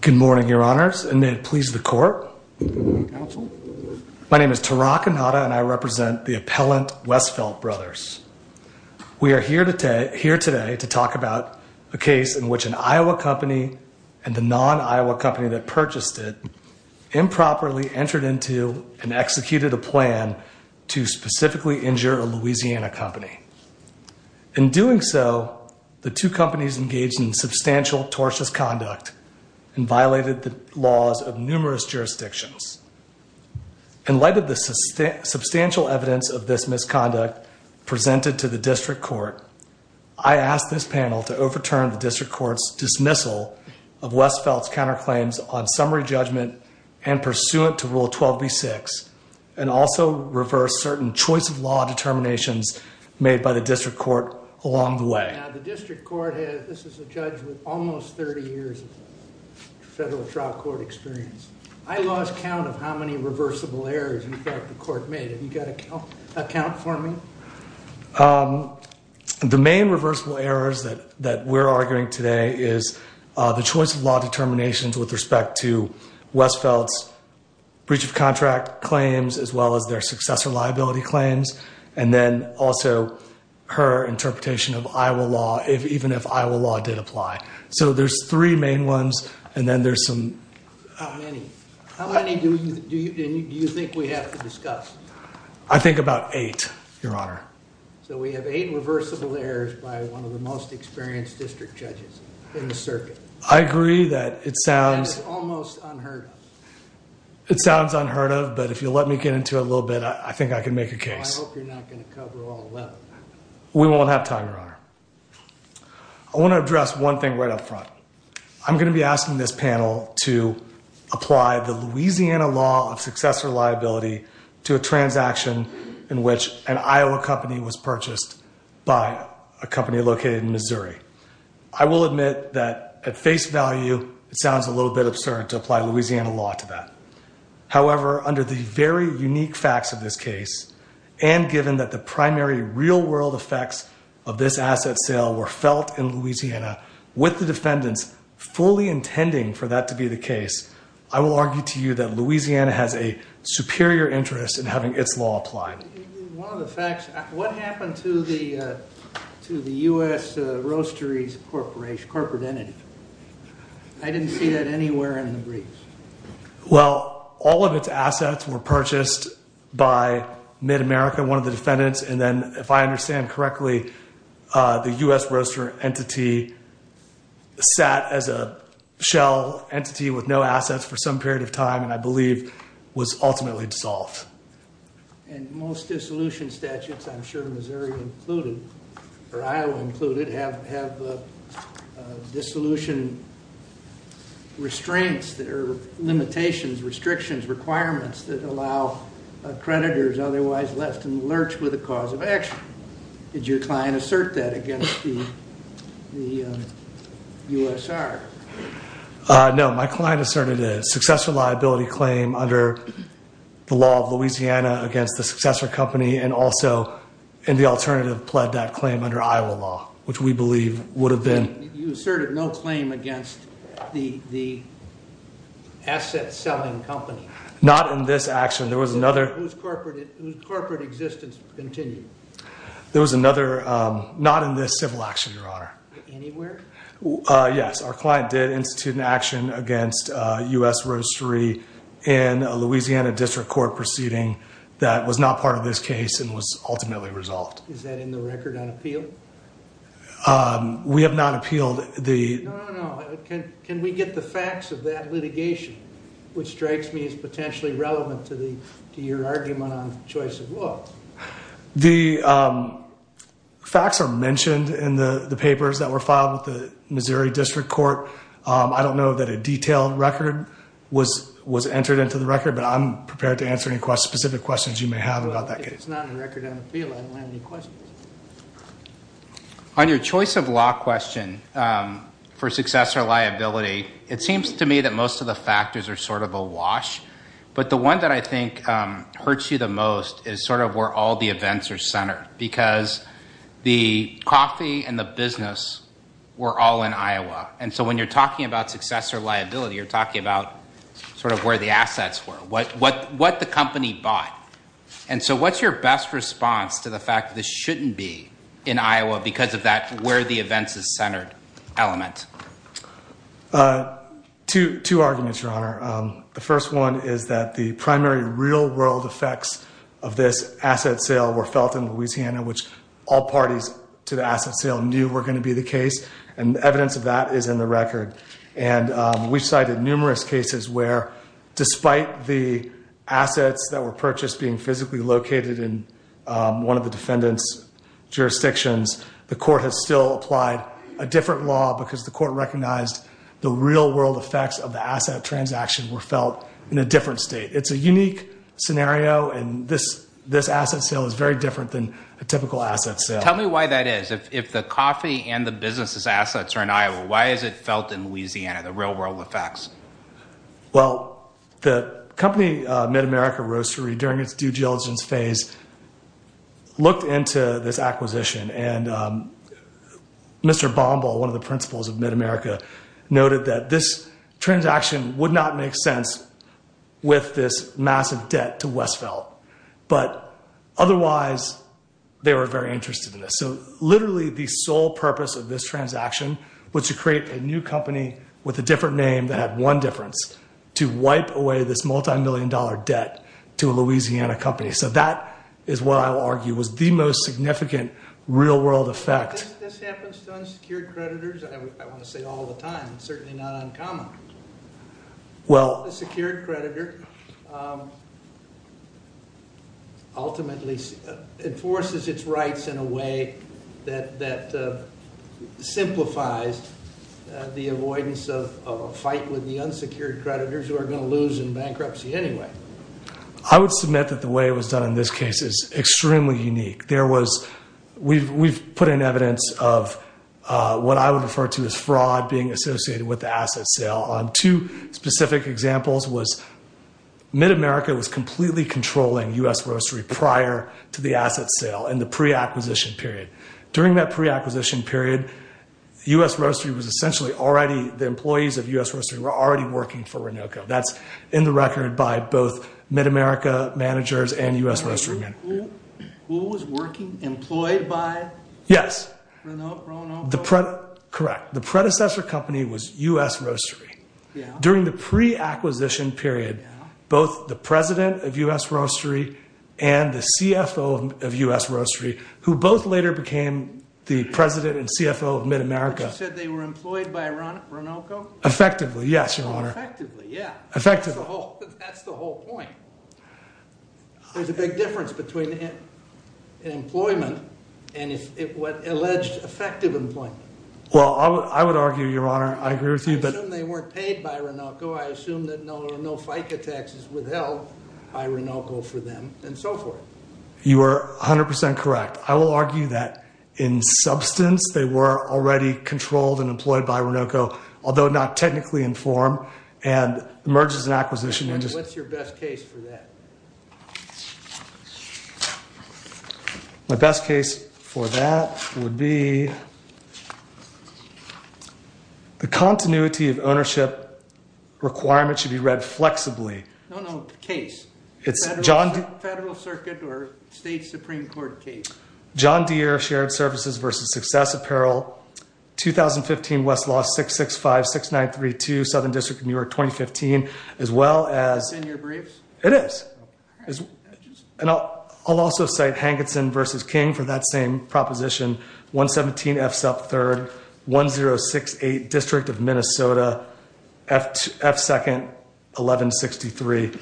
Good morning, Your Honors, and may it please the Court. My name is Tarak Inada, and I represent the appellant Westfeldt Brothers. We are here today to talk about a case in which an Iowa company and the non-Iowa company that purchased it improperly entered into and executed a plan to specifically injure a Louisiana company. In doing so, the two companies engaged in substantial tortious conduct and violated the laws of numerous jurisdictions. In light of the substantial evidence of this misconduct presented to the District Court, I ask this panel to overturn the District Court's dismissal of Westfeldt's counterclaims on summary judgment and pursuant to Rule 12b-6, and also reverse certain choice of law determinations made by the District Court along the way. Now, the District Court has, this is a judge with almost 30 years of federal trial court experience. I lost count of how many reversible errors, in fact, the Court made. Have you got a count for me? The main reversible errors that we're arguing today is the choice of law determinations with respect to Westfeldt's breach of contract claims as well as their successor liability claims, and then also her interpretation of Iowa law, even if Iowa law did apply. So there's three main ones, and then there's some... How many? How many do you think we have to discuss? I think about eight, Your Honor. So we have eight reversible errors by one of the most experienced district judges in the circuit. I agree that it sounds... That is almost unheard of. It sounds unheard of, but if you'll let me get into it a little bit, I think I can make a case. I hope you're not going to cover all 11. We won't have time, Your Honor. I want to address one thing right up front. I'm going to be asking this panel to apply the Louisiana law of successor liability to a transaction in which an Iowa company was purchased by a company located in Missouri. I will admit that at face value, it sounds a little bit absurd to apply Louisiana law to that. However, under the very unique facts of this case, and given that the primary real world effects of this asset sale were felt in Louisiana with the defendants fully intending for that to be the case, I will argue to you that Louisiana has a superior interest in having its law applied. One of the facts... What happened to the U.S. Roasteries Corporation, corporate entity? I didn't see that anywhere in the briefs. Well, all of its assets were purchased by Mid-America, one of the defendants, and then if I understand correctly, the U.S. Roastery entity sat as a shell entity with no assets for some period of time, and I believe was ultimately dissolved. And most dissolution statutes, I'm sure Missouri included, or Iowa included, have dissolution restraints or limitations, restrictions, requirements that allow creditors otherwise left to lurch with a cause of action. Did your client assert that against the USR? No, my client asserted it. The successor liability claim under the law of Louisiana against the successor company and also in the alternative pled that claim under Iowa law, which we believe would have been... You asserted no claim against the asset selling company? Not in this action. There was another... Whose corporate existence continued? There was another... Not in this civil action, Your Honor. Anywhere? Yes, our client did institute an action against U.S. Roastery in a Louisiana district court proceeding that was not part of this case and was ultimately resolved. Is that in the record on appeal? We have not appealed the... No, no, no. Can we get the facts of that litigation, which strikes me as potentially relevant to your argument on choice of law? The facts are mentioned in the papers that were filed with the Missouri district court. I don't know that a detailed record was entered into the record, but I'm prepared to answer any specific questions you may have about that case. If it's not in record on appeal, I don't have any questions. On your choice of law question for successor liability, it seems to me that most of the factors are sort of awash, but the one that I think hurts you the most is sort of where all the events are centered, because the coffee and the business were all in Iowa. When you're talking about successor liability, you're talking about sort of where the assets were, what the company bought. What's your best response to the fact that this shouldn't be in Iowa because of that where the events is centered element? Two arguments, Your Honor. The first one is that the primary real world effects of this asset sale were felt in Louisiana, which all parties to the asset sale knew were going to be the case, and evidence of that is in the record. We've cited numerous cases where despite the assets that were purchased being physically located in one of the defendant's jurisdictions, the court has still applied a different law because the court recognized the real world effects of the asset transaction were felt in a different state. It's a unique scenario, and this asset sale is very different than a typical asset sale. Tell me why that is. If the coffee and the business's assets are in Iowa, why is it felt in Louisiana, the real world effects? Well, the company MidAmerica Roastery, during its due diligence phase, looked into this noted that this transaction would not make sense with this massive debt to Westphal, but otherwise they were very interested in this. So literally the sole purpose of this transaction was to create a new company with a different name that had one difference, to wipe away this multi-million dollar debt to a Louisiana company. So that is what I will argue was the most significant real world effect. Why does this happen to unsecured creditors? I want to say all the time, it's certainly not uncommon. A secured creditor ultimately enforces its rights in a way that simplifies the avoidance of a fight with the unsecured creditors who are going to lose in bankruptcy anyway. I would submit that the way it was done in this case is extremely unique. We've put in evidence of what I would refer to as fraud being associated with the asset sale. Two specific examples was MidAmerica was completely controlling U.S. Roastery prior to the asset sale, in the pre-acquisition period. During that pre-acquisition period, U.S. Roastery was essentially already, the employees of U.S. Roastery were already working for Renoko. That's in the record by both MidAmerica managers and U.S. Roastery managers. Who was working, employed by Renoko? Correct. The predecessor company was U.S. Roastery. During the pre-acquisition period, both the president of U.S. Roastery and the CFO of U.S. Roastery, who both later became the president and CFO of MidAmerica. You said they were employed by Renoko? Effectively, yes, your honor. Effectively, yeah. Effectively. That's the whole point. There's a big difference between employment and alleged effective employment. Well, I would argue, your honor, I agree with you. I assume they weren't paid by Renoko. I assume that no FICA taxes were held by Renoko for them, and so forth. You are 100% correct. I will argue that in substance, they were already controlled and employed by Renoko, although not technically informed. Mergers and acquisitions. What's your best case for that? My best case for that would be the continuity of ownership requirement should be read flexibly. No, no, case. Federal circuit or state supreme court case. John Deere shared services versus success apparel. 2015 Westlaw 665-6932, Southern District of New York, 2015, as well as. Is it in your briefs? It is. I'll also cite Hankinson versus King for that same proposition. 117 F-SUP 3rd, 1068 District of Minnesota, F-2nd, 1163.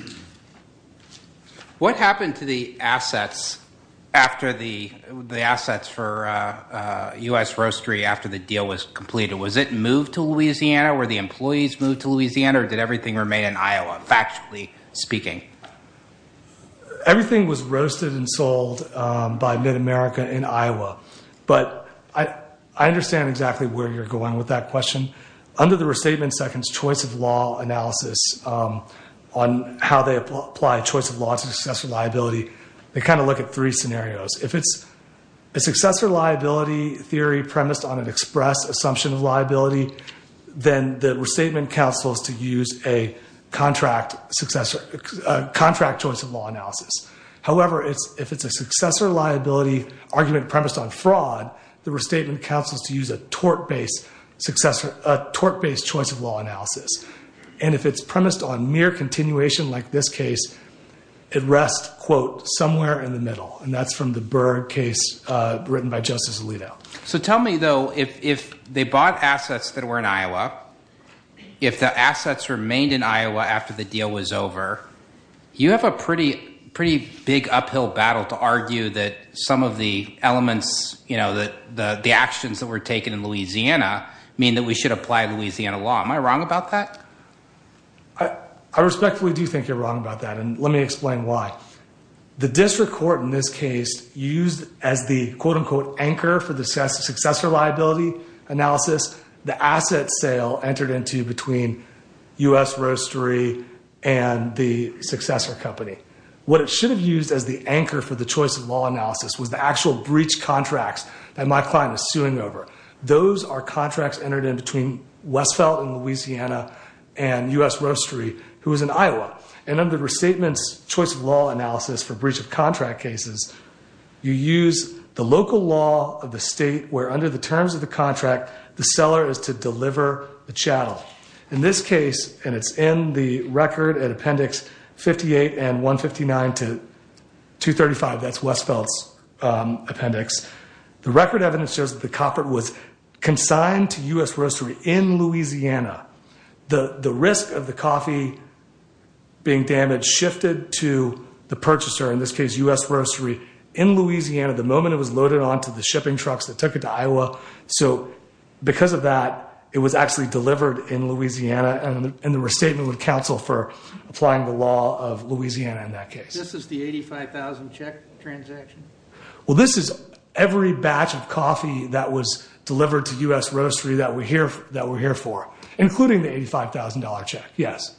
What happened to the assets for U.S. Roastery after the deal was completed? Was it moved to Louisiana? Were the employees moved to Louisiana, or did everything remain in Iowa, factually speaking? Everything was roasted and sold by Mid-America in Iowa. But I understand exactly where you're going with that question. Under the restatement second's choice of law analysis on how they apply choice of law to successor liability, they kind of look at three scenarios. If it's a successor liability theory premised on an express assumption of liability, then the restatement counsels to use a contract choice of law analysis. However, if it's a successor liability argument premised on fraud, the restatement counsels to use a tort-based choice of law analysis. And if it's premised on mere continuation like this case, it rests, quote, somewhere in the middle. And that's from the Berg case written by Justice Alito. So tell me, though, if they bought assets that were in Iowa, if the assets remained in Iowa after the deal was over, You have a pretty big uphill battle to argue that some of the elements, the actions that were taken in Louisiana mean that we should apply Louisiana law. Am I wrong about that? I respectfully do think you're wrong about that, and let me explain why. The district court in this case used as the, quote, unquote, anchor for the successor liability analysis the asset sale entered into between U.S. Roastery and the successor company. What it should have used as the anchor for the choice of law analysis was the actual breach contracts that my client is suing over. Those are contracts entered in between Westfeld in Louisiana and U.S. Roastery, who is in Iowa. And under the restatements choice of law analysis for breach of contract cases, you use the local law of the state where under the terms of the contract, the seller is to deliver the chattel. In this case, and it's in the record at Appendix 58 and 159 to 235, that's Westfeld's appendix. The record evidence shows that the copper was consigned to U.S. Roastery in Louisiana. The risk of the coffee being damaged shifted to the purchaser, in this case U.S. Roastery, in Louisiana the moment it was loaded onto the shipping trucks that took it to Iowa. So because of that, it was actually delivered in Louisiana, and the restatement would counsel for applying the law of Louisiana in that case. This is the $85,000 check transaction? Well, this is every batch of coffee that was delivered to U.S. Roastery that we're here for, including the $85,000 check, yes.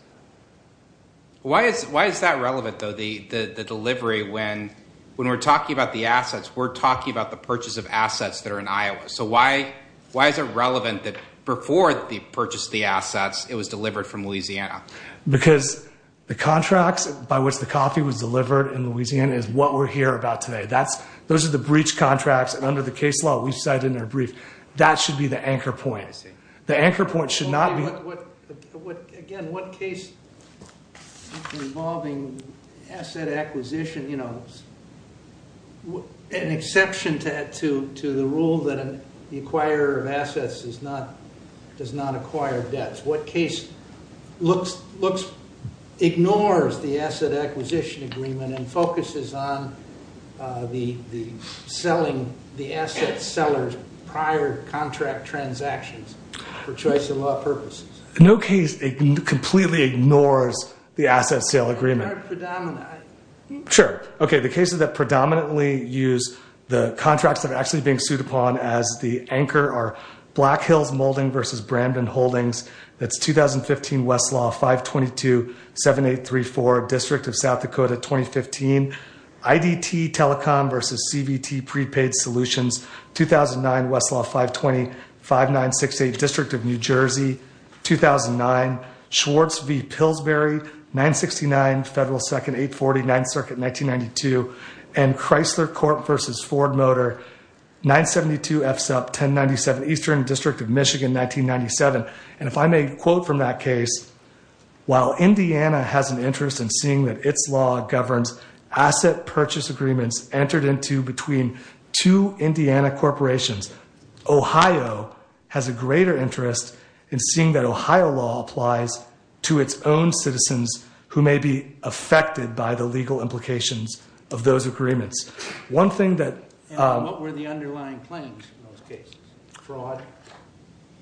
Why is that relevant, though, the delivery when we're talking about the assets, we're talking about the purchase of assets that are in Iowa. So why is it relevant that before they purchased the assets, it was delivered from Louisiana? Because the contracts by which the coffee was delivered in Louisiana is what we're here about today. Those are the breach contracts, and under the case law we've cited in our brief, that should be the anchor point. The anchor point should not be... Again, what case involving asset acquisition, you know, an exception to the rule that the acquirer of assets does not acquire debts. What case ignores the asset acquisition agreement and focuses on the selling, the asset seller's prior contract transactions for choice of law purposes? No case completely ignores the asset sale agreement. Sure. Okay, the cases that predominantly use the contracts that are actually being sued upon as the anchor are Black Hills Molding v. Brandon Holdings. That's 2015 Westlaw 522-7834, District of South Dakota, 2015. IDT Telecom v. CVT Prepaid Solutions, 2009 Westlaw 520-5968, District of New Jersey, 2009. Schwartz v. Pillsbury, 969 Federal 2nd 840, 9th Circuit, 1992. And Chrysler Corp v. Ford Motor, 972 FSUP 1097, Eastern District of Michigan, 1997. And if I may quote from that case, while Indiana has an interest in seeing that its law governs asset purchase agreements entered into between two Indiana corporations, Ohio has a greater interest in seeing that Ohio law applies to its own citizens who may be affected by the legal implications of those agreements. And what were the underlying claims in those cases? Fraud.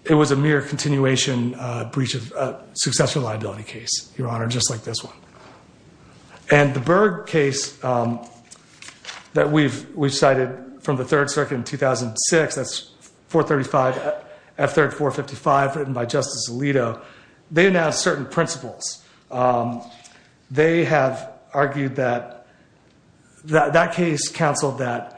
It was a mere continuation breach of successful liability case, Your Honor, just like this one. And the Berg case that we've cited from the 3rd Circuit in 2006, that's 435 F3455 written by Justice Alito. They announced certain principles. They have argued that that case counseled that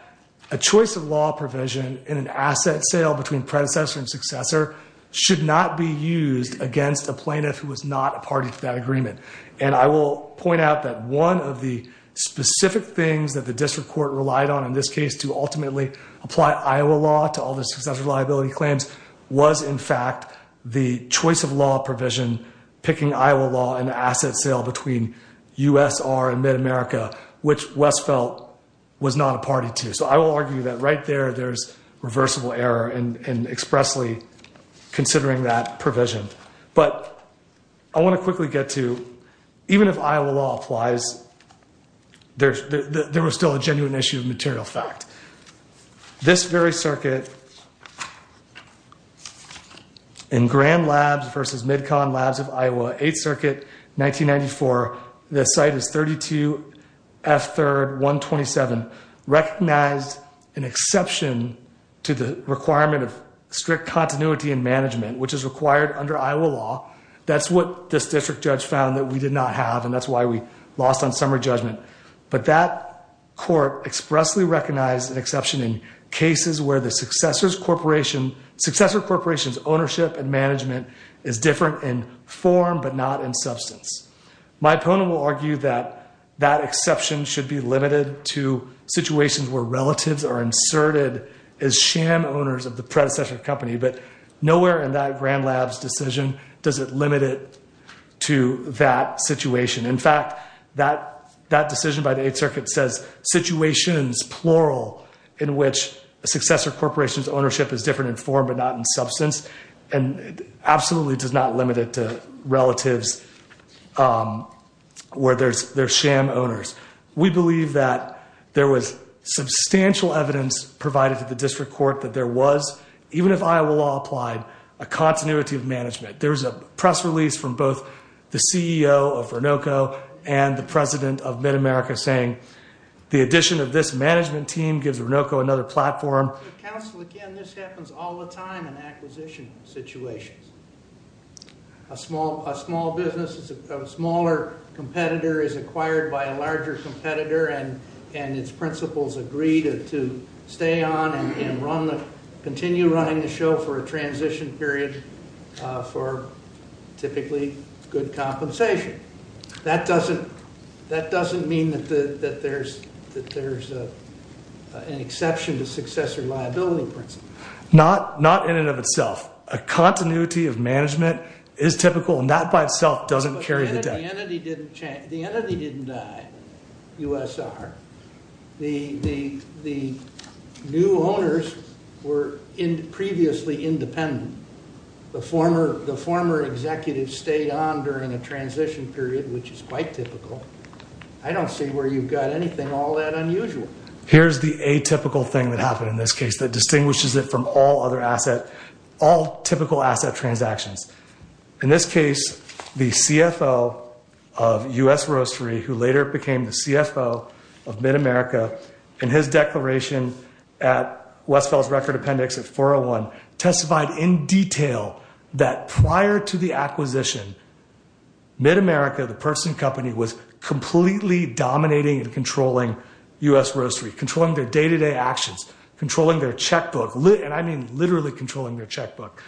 a choice of law provision in an asset sale between predecessor and successor should not be used against a plaintiff who was not a party to that agreement. And I will point out that one of the specific things that the district court relied on in this case to ultimately apply Iowa law to all the successful liability claims was, in fact, the choice of law provision, picking Iowa law in an asset sale between USR and Mid-America, which West felt was not a party to. So I will argue that right there, there's reversible error in expressly considering that provision. But I want to quickly get to, even if Iowa law applies, there was still a genuine issue of material fact. This very circuit in Grand Labs versus MidCon Labs of Iowa, 8th Circuit, 1994. The site is 32 F3, 127, recognized an exception to the requirement of strict continuity and management, which is required under Iowa law. That's what this district judge found that we did not have, and that's why we lost on summary judgment. But that court expressly recognized an exception in cases where the successor's corporation's ownership and management is different in form but not in substance. My opponent will argue that that exception should be limited to situations where relatives are inserted as sham owners of the predecessor company. But nowhere in that Grand Labs decision does it limit it to that situation. In fact, that decision by the 8th Circuit says situations, plural, in which a successor corporation's ownership is different in form but not in substance, and absolutely does not limit it to relatives where they're sham owners. We believe that there was substantial evidence provided to the district court that there was, even if Iowa law applied, a continuity of management. There was a press release from both the CEO of Renoko and the president of MidAmerica saying the addition of this management team gives Renoko another platform. Council, again, this happens all the time in acquisition situations. A small business, a smaller competitor is acquired by a larger competitor, and its principles agree to stay on and continue running the show for a transition period for typically good compensation. That doesn't mean that there's an exception to successor liability principles. Not in and of itself. A continuity of management is typical, and that by itself doesn't carry the debt. The entity didn't die, USR. The new owners were previously independent. The former executive stayed on during a transition period, which is quite typical. I don't see where you've got anything all that unusual. Here's the atypical thing that happened in this case that distinguishes it from all other asset, all typical asset transactions. In this case, the CFO of U.S. Roastery, who later became the CFO of MidAmerica, in his declaration at Westfield's Record Appendix at 401, testified in detail that prior to the acquisition, MidAmerica, the purchasing company, was completely dominating and controlling U.S. Roastery, controlling their day-to-day actions, controlling their checkbook, and I mean literally controlling their checkbook.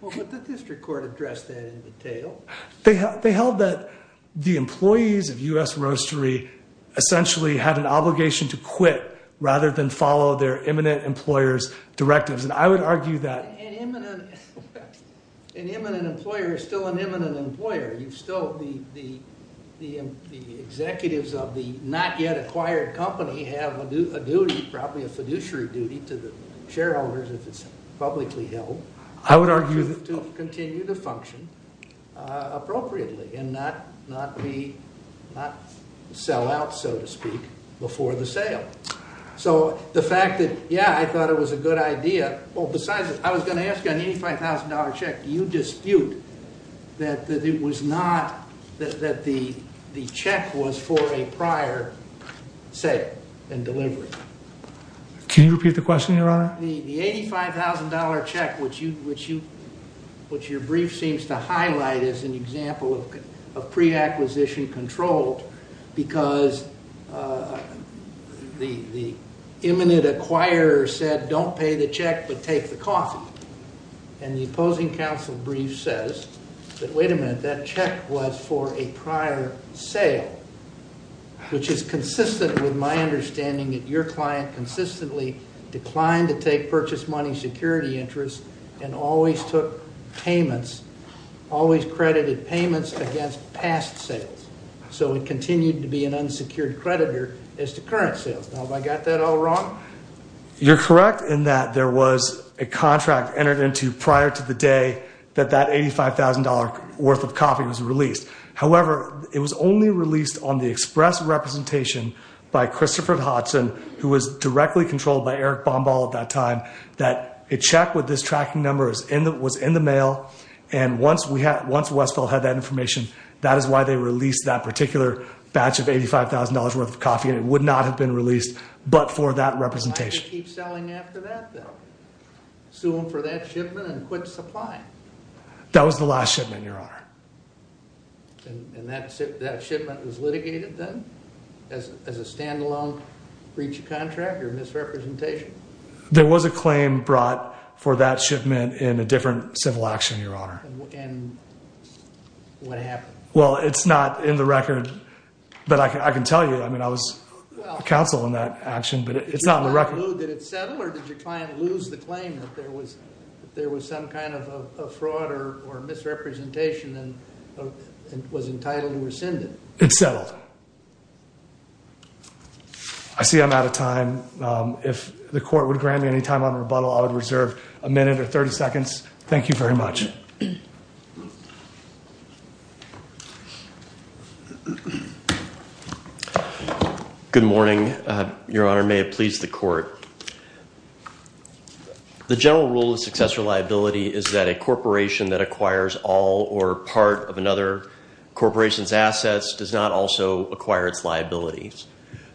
Well, but the district court addressed that in detail. They held that the employees of U.S. Roastery essentially had an obligation to quit rather than follow their imminent employer's directives, and I would argue that... An imminent employer is still an imminent employer. The executives of the not-yet-acquired company have a duty, probably a fiduciary duty, to the shareholders if it's publicly held. I would argue that... To continue to function appropriately and not sell out, so to speak, before the sale. So the fact that, yeah, I thought it was a good idea... Well, besides, I was going to ask you, on the $85,000 check, do you dispute that it was not... That the check was for a prior sale and delivery? The $85,000 check, which your brief seems to highlight as an example of pre-acquisition control, because the imminent acquirer said, don't pay the check, but take the coffee. And the opposing counsel brief says that, wait a minute, that check was for a prior sale, which is consistent with my understanding that your client consistently declined to take purchase money security interest and always took payments, always credited payments against past sales. So it continued to be an unsecured creditor as to current sales. Now, have I got that all wrong? You're correct in that there was a contract entered into prior to the day that that $85,000 worth of coffee was released. However, it was only released on the express representation by Christopher Hodgson, who was directly controlled by Eric Bombal at that time, that a check with this tracking number was in the mail. And once Westfield had that information, that is why they released that particular batch of $85,000 worth of coffee and it would not have been released, but for that representation. Why did they keep selling after that though? Sue them for that shipment and quit supplying? That was the last shipment, your honor. And that shipment was litigated then as a standalone breach of contract or misrepresentation? There was a claim brought for that shipment in a different civil action, your honor. And what happened? Well, it's not in the record, but I can tell you, I mean, I was counsel in that action, but it's not in the record. Did it settle or did your client lose the claim that there was some kind of a fraud or misrepresentation and was entitled to rescind it? It settled. I see I'm out of time. If the court would grant me any time on rebuttal, I would reserve a minute or 30 seconds. Thank you very much. Good morning, your honor. May it please the court. The general rule of successor liability is that a corporation that acquires all or part of another corporation's assets does not also acquire its liabilities.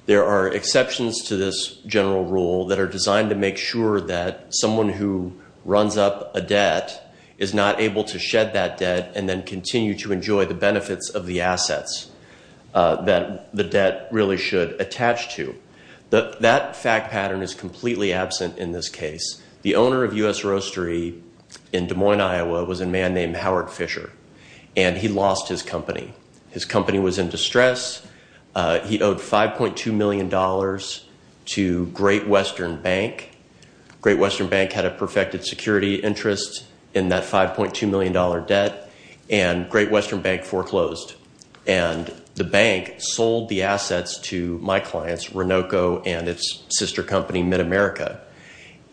There are exceptions to this general rule that are designed to make sure that someone who runs up a debt is not able to shed that debt and then continue to enjoy the benefits of the assets that the debt really should attach to. That fact pattern is completely absent in this case. The owner of U.S. Roastery in Des Moines, Iowa, was a man named Howard Fisher, and he lost his company. His company was in distress. He owed $5.2 million to Great Western Bank. Great Western Bank had a perfected security interest in that $5.2 million debt, and Great Western Bank foreclosed. And the bank sold the assets to my clients, Renoco and its sister company, MidAmerica.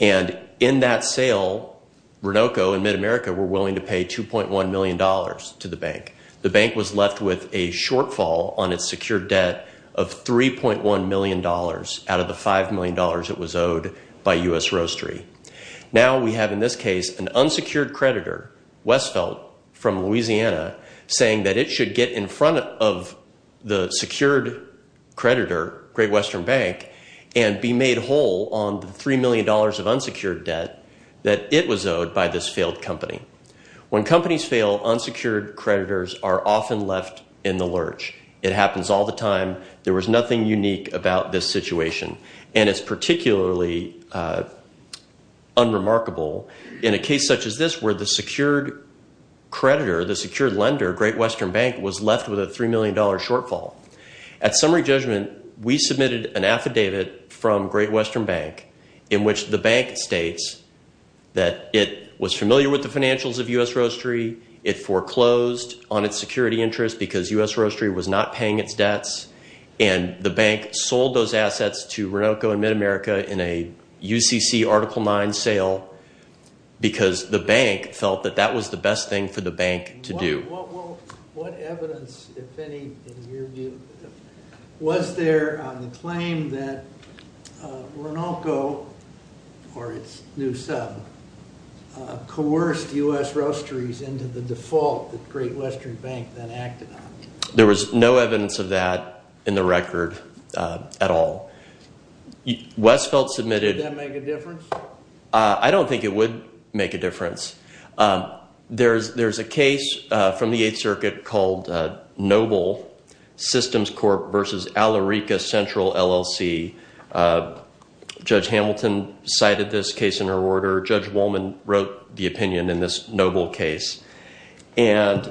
And in that sale, Renoco and MidAmerica were willing to pay $2.1 million to the bank. The bank was left with a shortfall on its secured debt of $3.1 million out of the $5 million it was owed by U.S. Roastery. Now we have, in this case, an unsecured creditor, Westfeldt, from Louisiana, saying that it should get in front of the secured creditor, Great Western Bank, and be made whole on the $3 million of unsecured debt that it was owed by this failed company. When companies fail, unsecured creditors are often left in the lurch. It happens all the time. There was nothing unique about this situation. And it's particularly unremarkable in a case such as this where the secured creditor, the secured lender, Great Western Bank, was left with a $3 million shortfall. At summary judgment, we submitted an affidavit from Great Western Bank in which the bank states that it was familiar with the financials of U.S. Roastery. It foreclosed on its security interest because U.S. Roastery was not paying its debts. And the bank sold those assets to Renolco and MidAmerica in a UCC Article IX sale because the bank felt that that was the best thing for the bank to do. What evidence, if any, in your view, was there on the claim that Renolco, or its new sub, coerced U.S. Roasteries into the default that Great Western Bank then acted on? There was no evidence of that in the record at all. Westfeld submitted- Would that make a difference? I don't think it would make a difference. There's a case from the Eighth Circuit called Noble Systems Corp. v. Alarica Central LLC. Judge Hamilton cited this case in her order. Judge Wolman wrote the opinion in this Noble case. In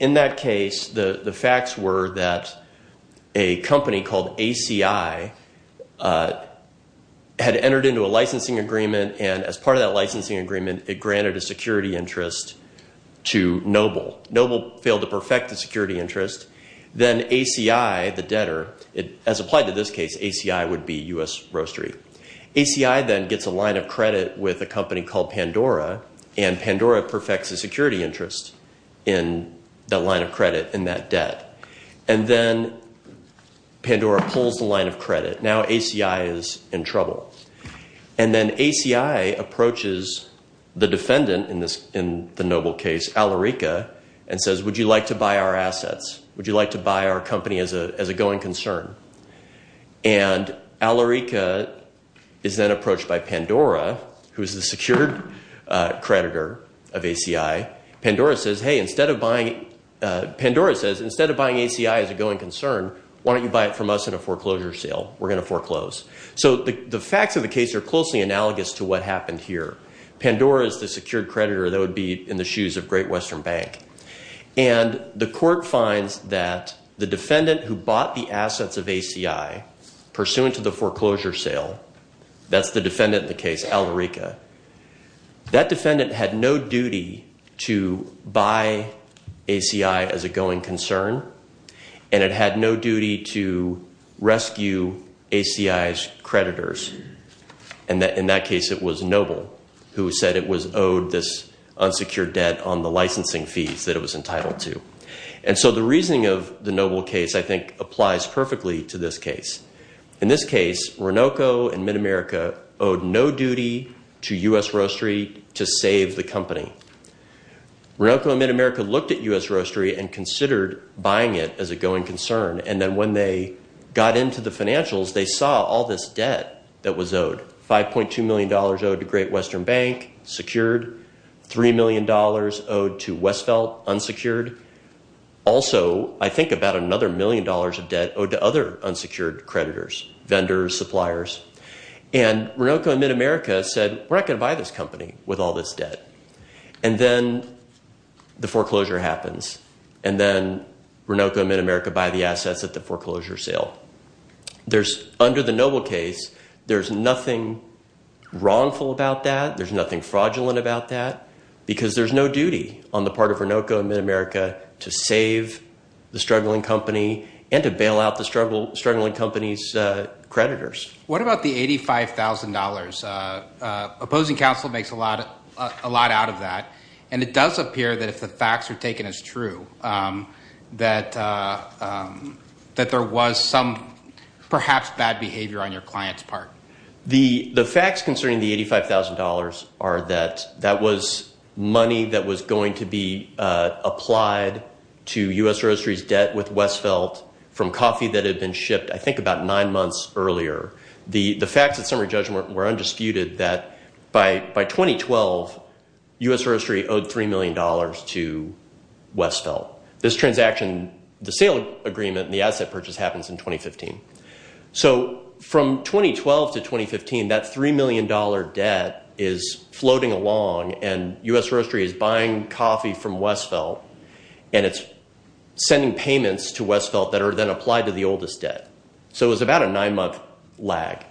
that case, the facts were that a company called ACI had entered into a licensing agreement, and as part of that licensing agreement, it granted a security interest to Noble. Noble failed to perfect the security interest. Then ACI, the debtor, as applied to this case, ACI would be U.S. Roastery. ACI then gets a line of credit with a company called Pandora, and Pandora perfects a security interest in that line of credit in that debt. Then Pandora pulls the line of credit. Now ACI is in trouble. Then ACI approaches the defendant in the Noble case, Alarica, and says, Would you like to buy our assets? Would you like to buy our company as a going concern? And Alarica is then approached by Pandora, who is the secured creditor of ACI. Pandora says, Hey, instead of buying, Pandora says, Instead of buying ACI as a going concern, why don't you buy it from us in a foreclosure sale? We're going to foreclose. So the facts of the case are closely analogous to what happened here. Pandora is the secured creditor that would be in the shoes of Great Western Bank. And the court finds that the defendant who bought the assets of ACI, pursuant to the foreclosure sale, that's the defendant in the case, Alarica. That defendant had no duty to buy ACI as a going concern, and it had no duty to rescue ACI's creditors. In that case, it was Noble who said it was owed this unsecured debt on the licensing fees that it was entitled to. And so the reasoning of the Noble case, I think, applies perfectly to this case. In this case, Renoco and MidAmerica owed no duty to U.S. Roastery to save the company. Renoco and MidAmerica looked at U.S. Roastery and considered buying it as a going concern, and then when they got into the financials, they saw all this debt that was owed. $5.2 million owed to Great Western Bank, secured. $3 million owed to Westveld, unsecured. Also, I think about another million dollars of debt owed to other unsecured creditors, vendors, suppliers. And Renoco and MidAmerica said, we're not going to buy this company with all this debt. And then the foreclosure happens. And then Renoco and MidAmerica buy the assets at the foreclosure sale. Under the Noble case, there's nothing wrongful about that. There's nothing fraudulent about that because there's no duty on the part of Renoco and MidAmerica to save the struggling company and to bail out the struggling company's creditors. What about the $85,000? Opposing counsel makes a lot out of that. And it does appear that if the facts are taken as true, that there was some perhaps bad behavior on your client's part. The facts concerning the $85,000 are that that was money that was going to be applied to U.S. Roastery's debt with Westveld from coffee that had been shipped, I think, about nine months earlier. The facts of summary judgment were undisputed that by 2012, U.S. Roastery owed $3 million to Westveld. This transaction, the sale agreement and the asset purchase happens in 2015. So from 2012 to 2015, that $3 million debt is floating along and U.S. Roastery is buying coffee from Westveld and it's sending payments to Westveld that are then applied to the oldest debt. So it was about a nine-month lag.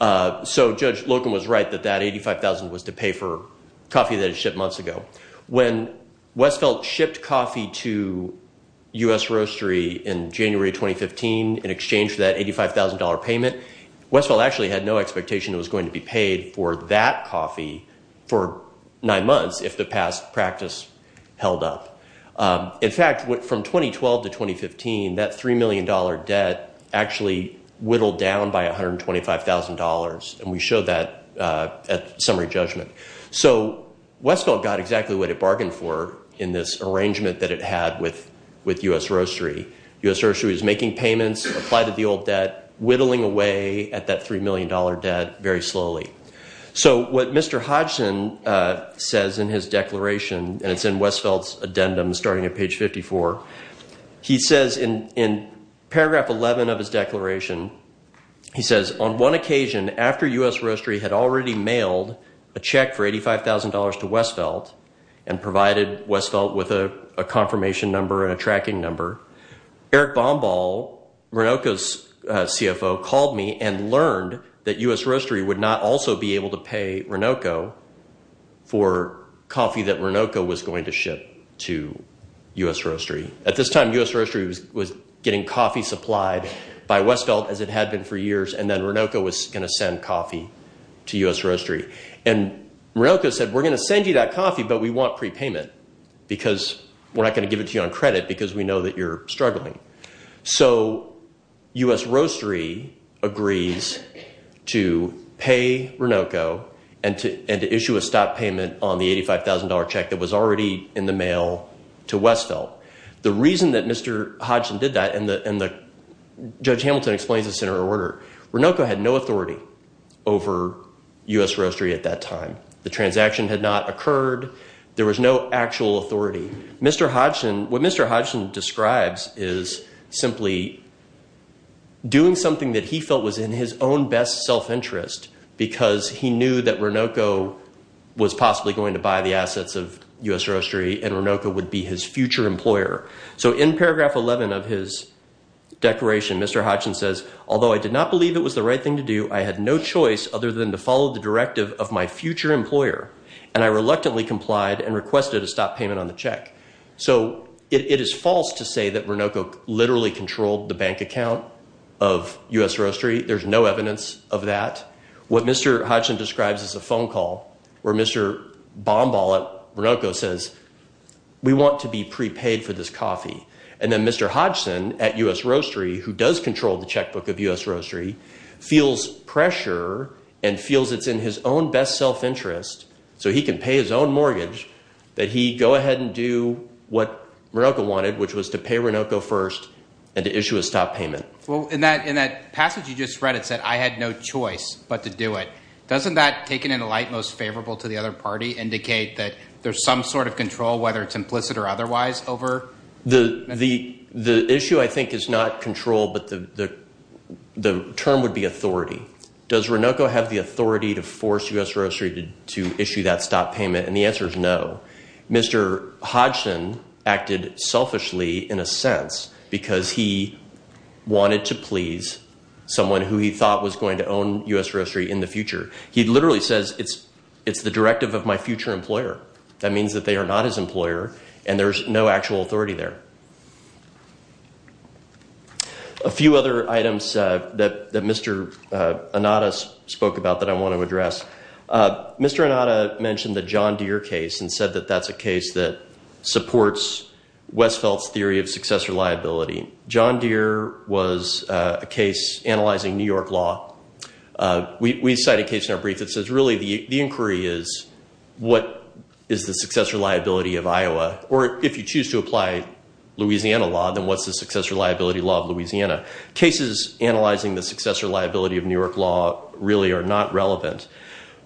So Judge Locum was right that that $85,000 was to pay for coffee that had been shipped months ago. When Westveld shipped coffee to U.S. Roastery in January 2015 in exchange for that $85,000 payment, Westveld actually had no expectation it was going to be paid for that coffee for nine months if the past practice held up. In fact, from 2012 to 2015, that $3 million debt actually whittled down by $125,000, and we showed that at summary judgment. So Westveld got exactly what it bargained for in this arrangement that it had with U.S. Roastery. U.S. Roastery was making payments, applied to the old debt, whittling away at that $3 million debt very slowly. So what Mr. Hodgson says in his declaration, and it's in Westveld's addendum starting at page 54, he says in paragraph 11 of his declaration, he says, On one occasion, after U.S. Roastery had already mailed a check for $85,000 to Westveld and provided Westveld with a confirmation number and a tracking number, Eric Bombal, Renoco's CFO, called me and learned that U.S. Roastery would not also be able to pay Renoco for coffee that Renoco was going to ship to U.S. Roastery. At this time, U.S. Roastery was getting coffee supplied by Westveld, as it had been for years, and then Renoco was going to send coffee to U.S. Roastery. And Renoco said, We're going to send you that coffee, but we want prepayment because we're not going to give it to you on credit because we know that you're struggling. So U.S. Roastery agrees to pay Renoco and to issue a stop payment on the $85,000 check that was already in the mail to Westveld. The reason that Mr. Hodgson did that, and Judge Hamilton explains this in her order, Renoco had no authority over U.S. Roastery at that time. The transaction had not occurred. There was no actual authority. What Mr. Hodgson describes is simply doing something that he felt was in his own best self-interest because he knew that Renoco was possibly going to buy the assets of U.S. Roastery and Renoco would be his future employer. So in paragraph 11 of his declaration, Mr. Hodgson says, Although I did not believe it was the right thing to do, I had no choice other than to follow the directive of my future employer, and I reluctantly complied and requested a stop payment on the check. So it is false to say that Renoco literally controlled the bank account of U.S. Roastery. There's no evidence of that. What Mr. Hodgson describes is a phone call where Mr. Bomball at Renoco says, We want to be prepaid for this coffee. And then Mr. Hodgson at U.S. Roastery, who does control the checkbook of U.S. Roastery, feels pressure and feels it's in his own best self-interest so he can pay his own mortgage that he go ahead and do what Renoco wanted, which was to pay Renoco first and to issue a stop payment. Well, in that passage you just read, it said, I had no choice but to do it. Doesn't that, taken in a light most favorable to the other party, indicate that there's some sort of control, whether it's implicit or otherwise, over? The issue, I think, is not control, but the term would be authority. Does Renoco have the authority to force U.S. Roastery to issue that stop payment? And the answer is no. Mr. Hodgson acted selfishly, in a sense, because he wanted to please someone who he thought was going to own U.S. Roastery in the future. He literally says, it's the directive of my future employer. That means that they are not his employer and there's no actual authority there. A few other items that Mr. Inada spoke about that I want to address. Mr. Inada mentioned the John Deere case and said that that's a case that supports Westfeldt's theory of successor liability. John Deere was a case analyzing New York law. We cite a case in our brief that says, really, the inquiry is, what is the successor liability of Iowa? Or if you choose to apply Louisiana law, then what's the successor liability law of Louisiana? Cases analyzing the successor liability of New York law really are not relevant.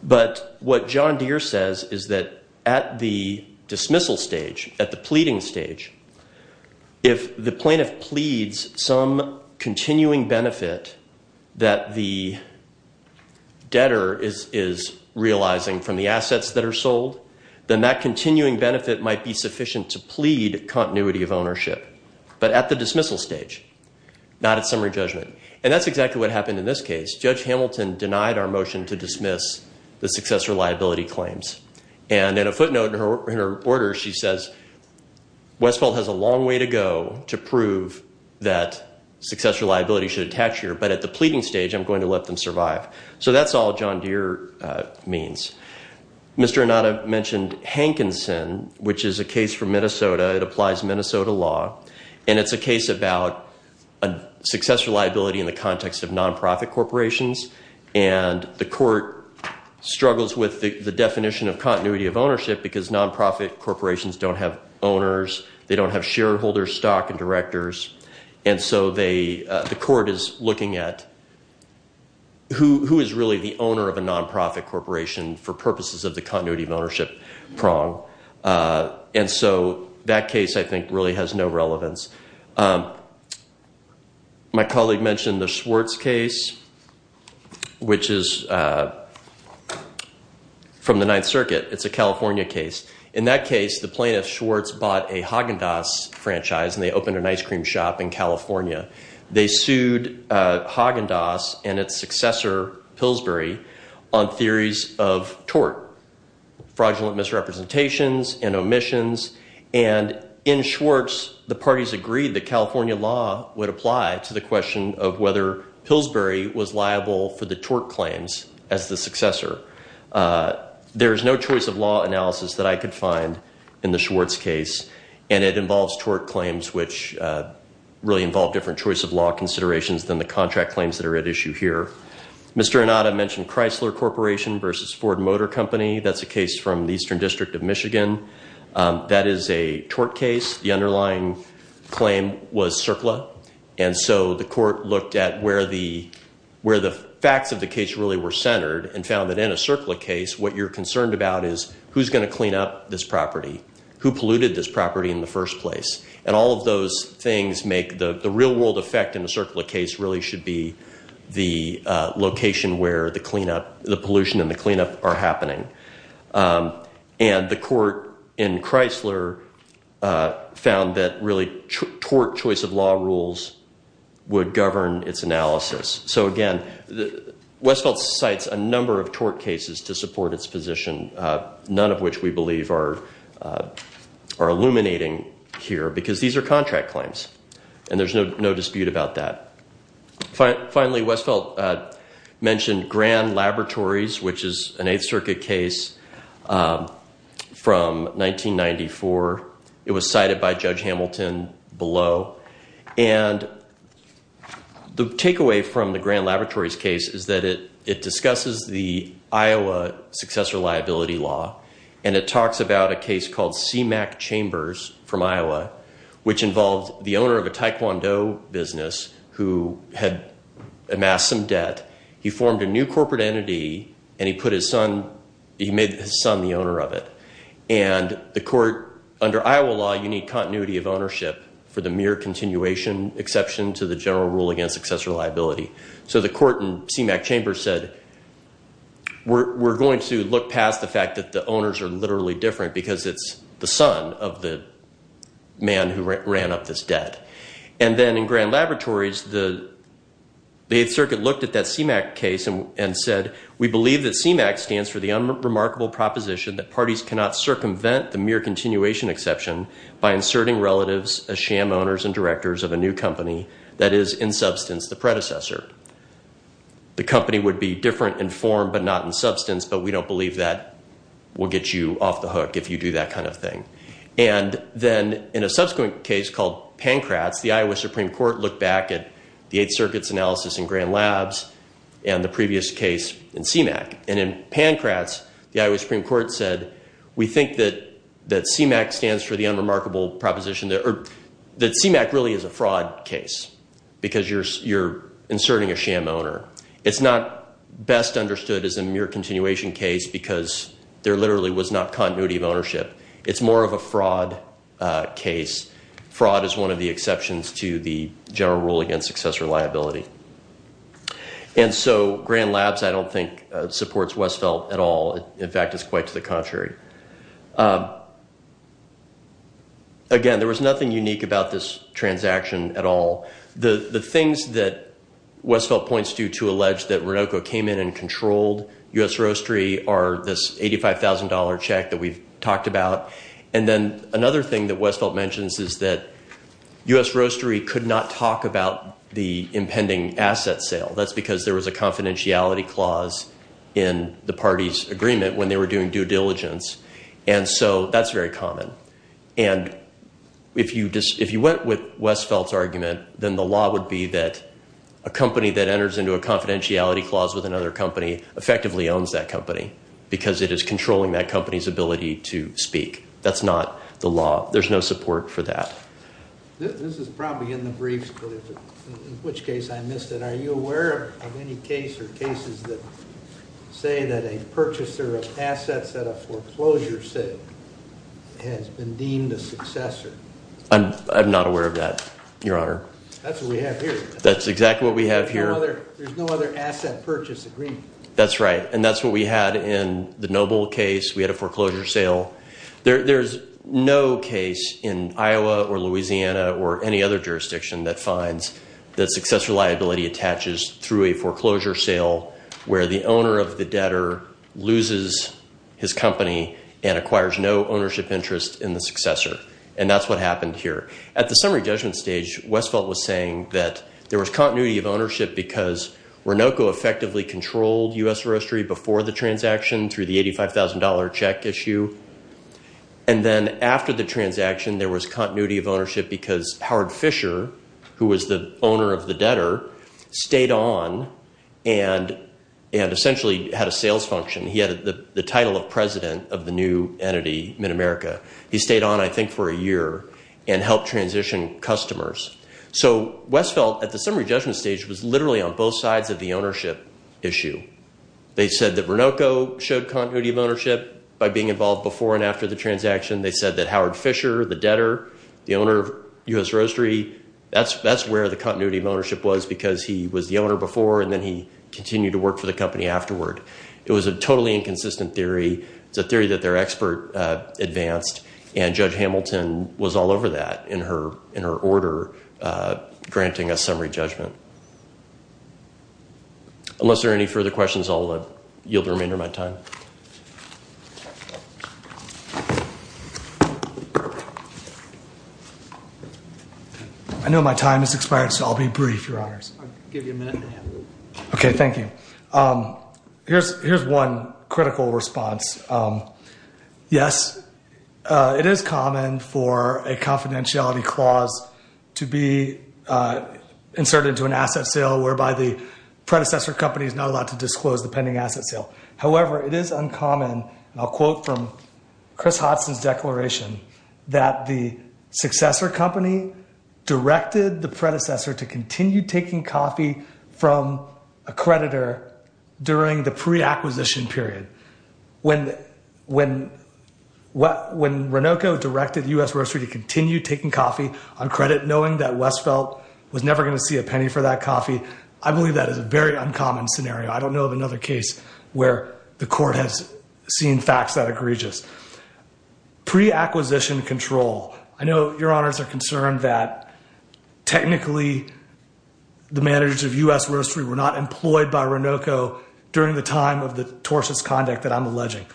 But what John Deere says is that at the dismissal stage, at the pleading stage, if the plaintiff pleads some continuing benefit that the debtor is realizing from the assets that are sold, then that continuing benefit might be sufficient to plead continuity of ownership. But at the dismissal stage, not at summary judgment. And that's exactly what happened in this case. Judge Hamilton denied our motion to dismiss the successor liability claims. And in a footnote in her order, she says, Westfeldt has a long way to go to prove that successor liability should attach here. But at the pleading stage, I'm going to let them survive. So that's all John Deere means. Mr. Inada mentioned Hankinson, which is a case from Minnesota. It applies Minnesota law. And it's a case about successor liability in the context of nonprofit corporations. And the court struggles with the definition of continuity of ownership because nonprofit corporations don't have owners. They don't have shareholders, stock and directors. And so the court is looking at who is really the owner of a nonprofit corporation for purposes of the continuity of ownership prong. And so that case, I think, really has no relevance. My colleague mentioned the Schwartz case, which is from the Ninth Circuit. It's a California case. In that case, the plaintiff, Schwartz, bought a Haagen-Dazs franchise, and they opened an ice cream shop in California. They sued Haagen-Dazs and its successor, Pillsbury, on theories of tort, fraudulent misrepresentations and omissions. And in Schwartz, the parties agreed that California law would apply to the question of whether Pillsbury was liable for the tort claims as the successor. There is no choice of law analysis that I could find in the Schwartz case. And it involves tort claims, which really involve different choice of law considerations than the contract claims that are at issue here. Mr. Inada mentioned Chrysler Corporation versus Ford Motor Company. That's a case from the Eastern District of Michigan. That is a tort case. The underlying claim was CERCLA. And so the court looked at where the facts of the case really were centered and found that in a CERCLA case, what you're concerned about is who's going to clean up this property, who polluted this property in the first place. And all of those things make the real-world effect in a CERCLA case really should be the location where the pollution and the cleanup are happening. And the court in Chrysler found that really tort choice of law rules would govern its analysis. So, again, Westfeld cites a number of tort cases to support its position, none of which we believe are illuminating here, because these are contract claims and there's no dispute about that. Finally, Westfeld mentioned Grand Laboratories, which is an Eighth Circuit case from 1994. It was cited by Judge Hamilton below. And the takeaway from the Grand Laboratories case is that it discusses the Iowa successor liability law, and it talks about a case called CMAQ Chambers from Iowa, which involved the owner of a taekwondo business who had amassed some debt. He formed a new corporate entity and he made his son the owner of it. And the court, under Iowa law, you need continuity of ownership for the mere continuation exception to the general rule against successor liability. So the court in CMAQ Chambers said, we're going to look past the fact that the owners are literally different, because it's the son of the man who ran up this debt. And then in Grand Laboratories, the Eighth Circuit looked at that CMAQ case and said, we believe that CMAQ stands for the unremarkable proposition that parties cannot circumvent the mere continuation exception by inserting relatives as sham owners and directors of a new company that is, in substance, the predecessor. The company would be different in form but not in substance, but we don't believe that will get you off the hook if you do that kind of thing. And then in a subsequent case called Pankratz, the Iowa Supreme Court looked back at the Eighth Circuit's analysis in Grand Labs and the previous case in CMAQ. And in Pankratz, the Iowa Supreme Court said, we think that CMAQ stands for the unremarkable proposition, or that CMAQ really is a fraud case because you're inserting a sham owner. It's not best understood as a mere continuation case because there literally was not continuity of ownership. It's more of a fraud case. Fraud is one of the exceptions to the general rule against successor liability. And so Grand Labs, I don't think, supports Westfeldt at all. In fact, it's quite to the contrary. Again, there was nothing unique about this transaction at all. The things that Westfeldt points to to allege that Ronoco came in and controlled U.S. Roastery are this $85,000 check that we've talked about. And then another thing that Westfeldt mentions is that U.S. Roastery could not talk about the impending asset sale. That's because there was a confidentiality clause in the party's agreement when they were doing due diligence. And so that's very common. And if you went with Westfeldt's argument, then the law would be that a company that enters into a confidentiality clause with another company effectively owns that company because it is controlling that company's ability to speak. That's not the law. There's no support for that. This is probably in the briefs, in which case I missed it. Are you aware of any case or cases that say that a purchaser of assets at a foreclosure sale has been deemed a successor? I'm not aware of that, Your Honor. That's what we have here. That's exactly what we have here. There's no other asset purchase agreement. That's right. And that's what we had in the Noble case. We had a foreclosure sale. There's no case in Iowa or Louisiana or any other jurisdiction that finds that successor liability attaches through a foreclosure sale where the owner of the debtor loses his company and acquires no ownership interest in the successor. And that's what happened here. At the summary judgment stage, Westphal was saying that there was continuity of ownership because Renoco effectively controlled U.S. Roastery before the transaction through the $85,000 check issue. And then after the transaction, there was continuity of ownership because Howard Fisher, who was the owner of the debtor, stayed on and essentially had a sales function. He had the title of president of the new entity, MidAmerica. He stayed on, I think, for a year and helped transition customers. So Westphal, at the summary judgment stage, was literally on both sides of the ownership issue. They said that Renoco showed continuity of ownership by being involved before and after the transaction. They said that Howard Fisher, the debtor, the owner of U.S. Roastery, that's where the continuity of ownership was because he was the owner before and then he continued to work for the company afterward. It was a totally inconsistent theory. It's a theory that their expert advanced, and Judge Hamilton was all over that in her order granting a summary judgment. Unless there are any further questions, I'll yield the remainder of my time. I know my time has expired, so I'll be brief, Your Honors. I'll give you a minute and a half. Okay, thank you. Here's one critical response. Yes, it is common for a confidentiality clause to be inserted into an asset sale whereby the predecessor company is not allowed to disclose the pending asset sale. However, it is uncommon, and I'll quote from Chris Hodson's declaration, that the successor company directed the predecessor to continue taking coffee from a creditor during the pre-acquisition period. When Renoco directed U.S. Roastery to continue taking coffee on credit, knowing that Westphal was never going to see a penny for that coffee, I believe that is a very uncommon scenario. I don't know of another case where the court has seen facts that are egregious. Pre-acquisition control. I know Your Honors are concerned that technically the managers of U.S. Roastery were not employed by Renoco during the time of the tortious conduct that I'm alleging.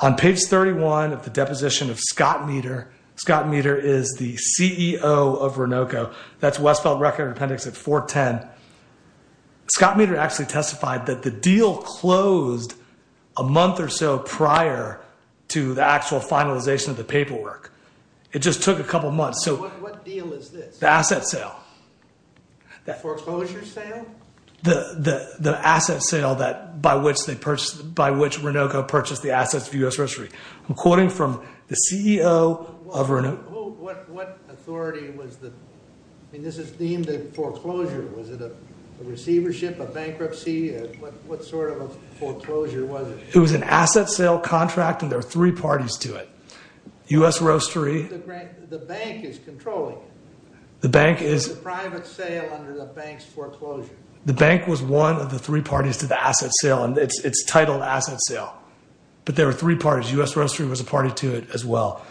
On page 31 of the deposition of Scott Meter, Scott Meter is the CEO of Renoco. That's Westphal Record Appendix at 410. Scott Meter actually testified that the deal closed a month or so prior to the actual finalization of the paperwork. It just took a couple months. What deal is this? The asset sale. The foreclosure sale? The asset sale by which Renoco purchased the assets of U.S. Roastery. I'm quoting from the CEO of Renoco. What authority was this? This is deemed a foreclosure. Was it a receivership, a bankruptcy? What sort of a foreclosure was it? It was an asset sale contract, and there were three parties to it. U.S. Roastery... The bank is controlling it. The bank is... It was a private sale under the bank's foreclosure. The bank was one of the three parties to the asset sale, and it's titled asset sale. But there were three parties. U.S. Roastery was a party to it as well.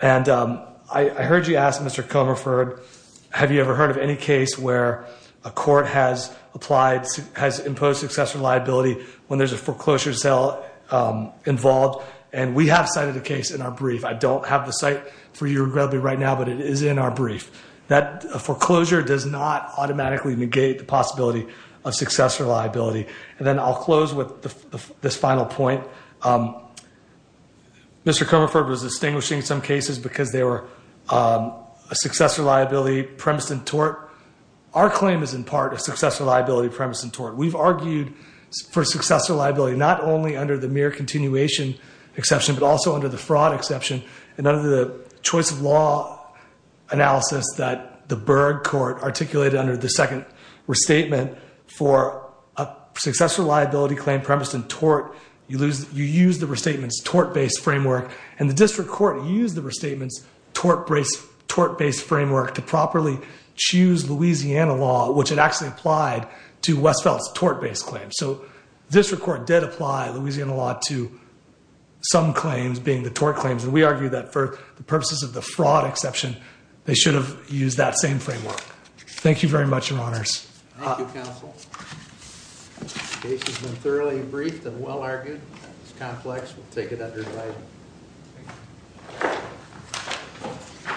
And I heard you ask, Mr. Comerford, have you ever heard of any case where a court has imposed successor liability when there's a foreclosure sale involved? And we have cited a case in our brief. I don't have the site for you, regrettably, right now, but it is in our brief. That foreclosure does not automatically negate the possibility of successor liability. And then I'll close with this final point. Mr. Comerford was distinguishing some cases because they were a successor liability premised in tort. Our claim is in part a successor liability premised in tort. We've argued for successor liability not only under the mere continuation exception, but also under the fraud exception and under the choice of law analysis that the Berg Court articulated under the second restatement for a successor liability claim premised in tort. You use the restatement's tort-based framework, and the district court used the restatement's tort-based framework to properly choose Louisiana law, which it actually applied to Westfeld's tort-based claim. So the district court did apply Louisiana law to some claims, being the tort claims. And we argue that for the purposes of the fraud exception, they should have used that same framework. Thank you, Counsel. The case has been thoroughly briefed and well-argued. It's complex. We'll take it under invite.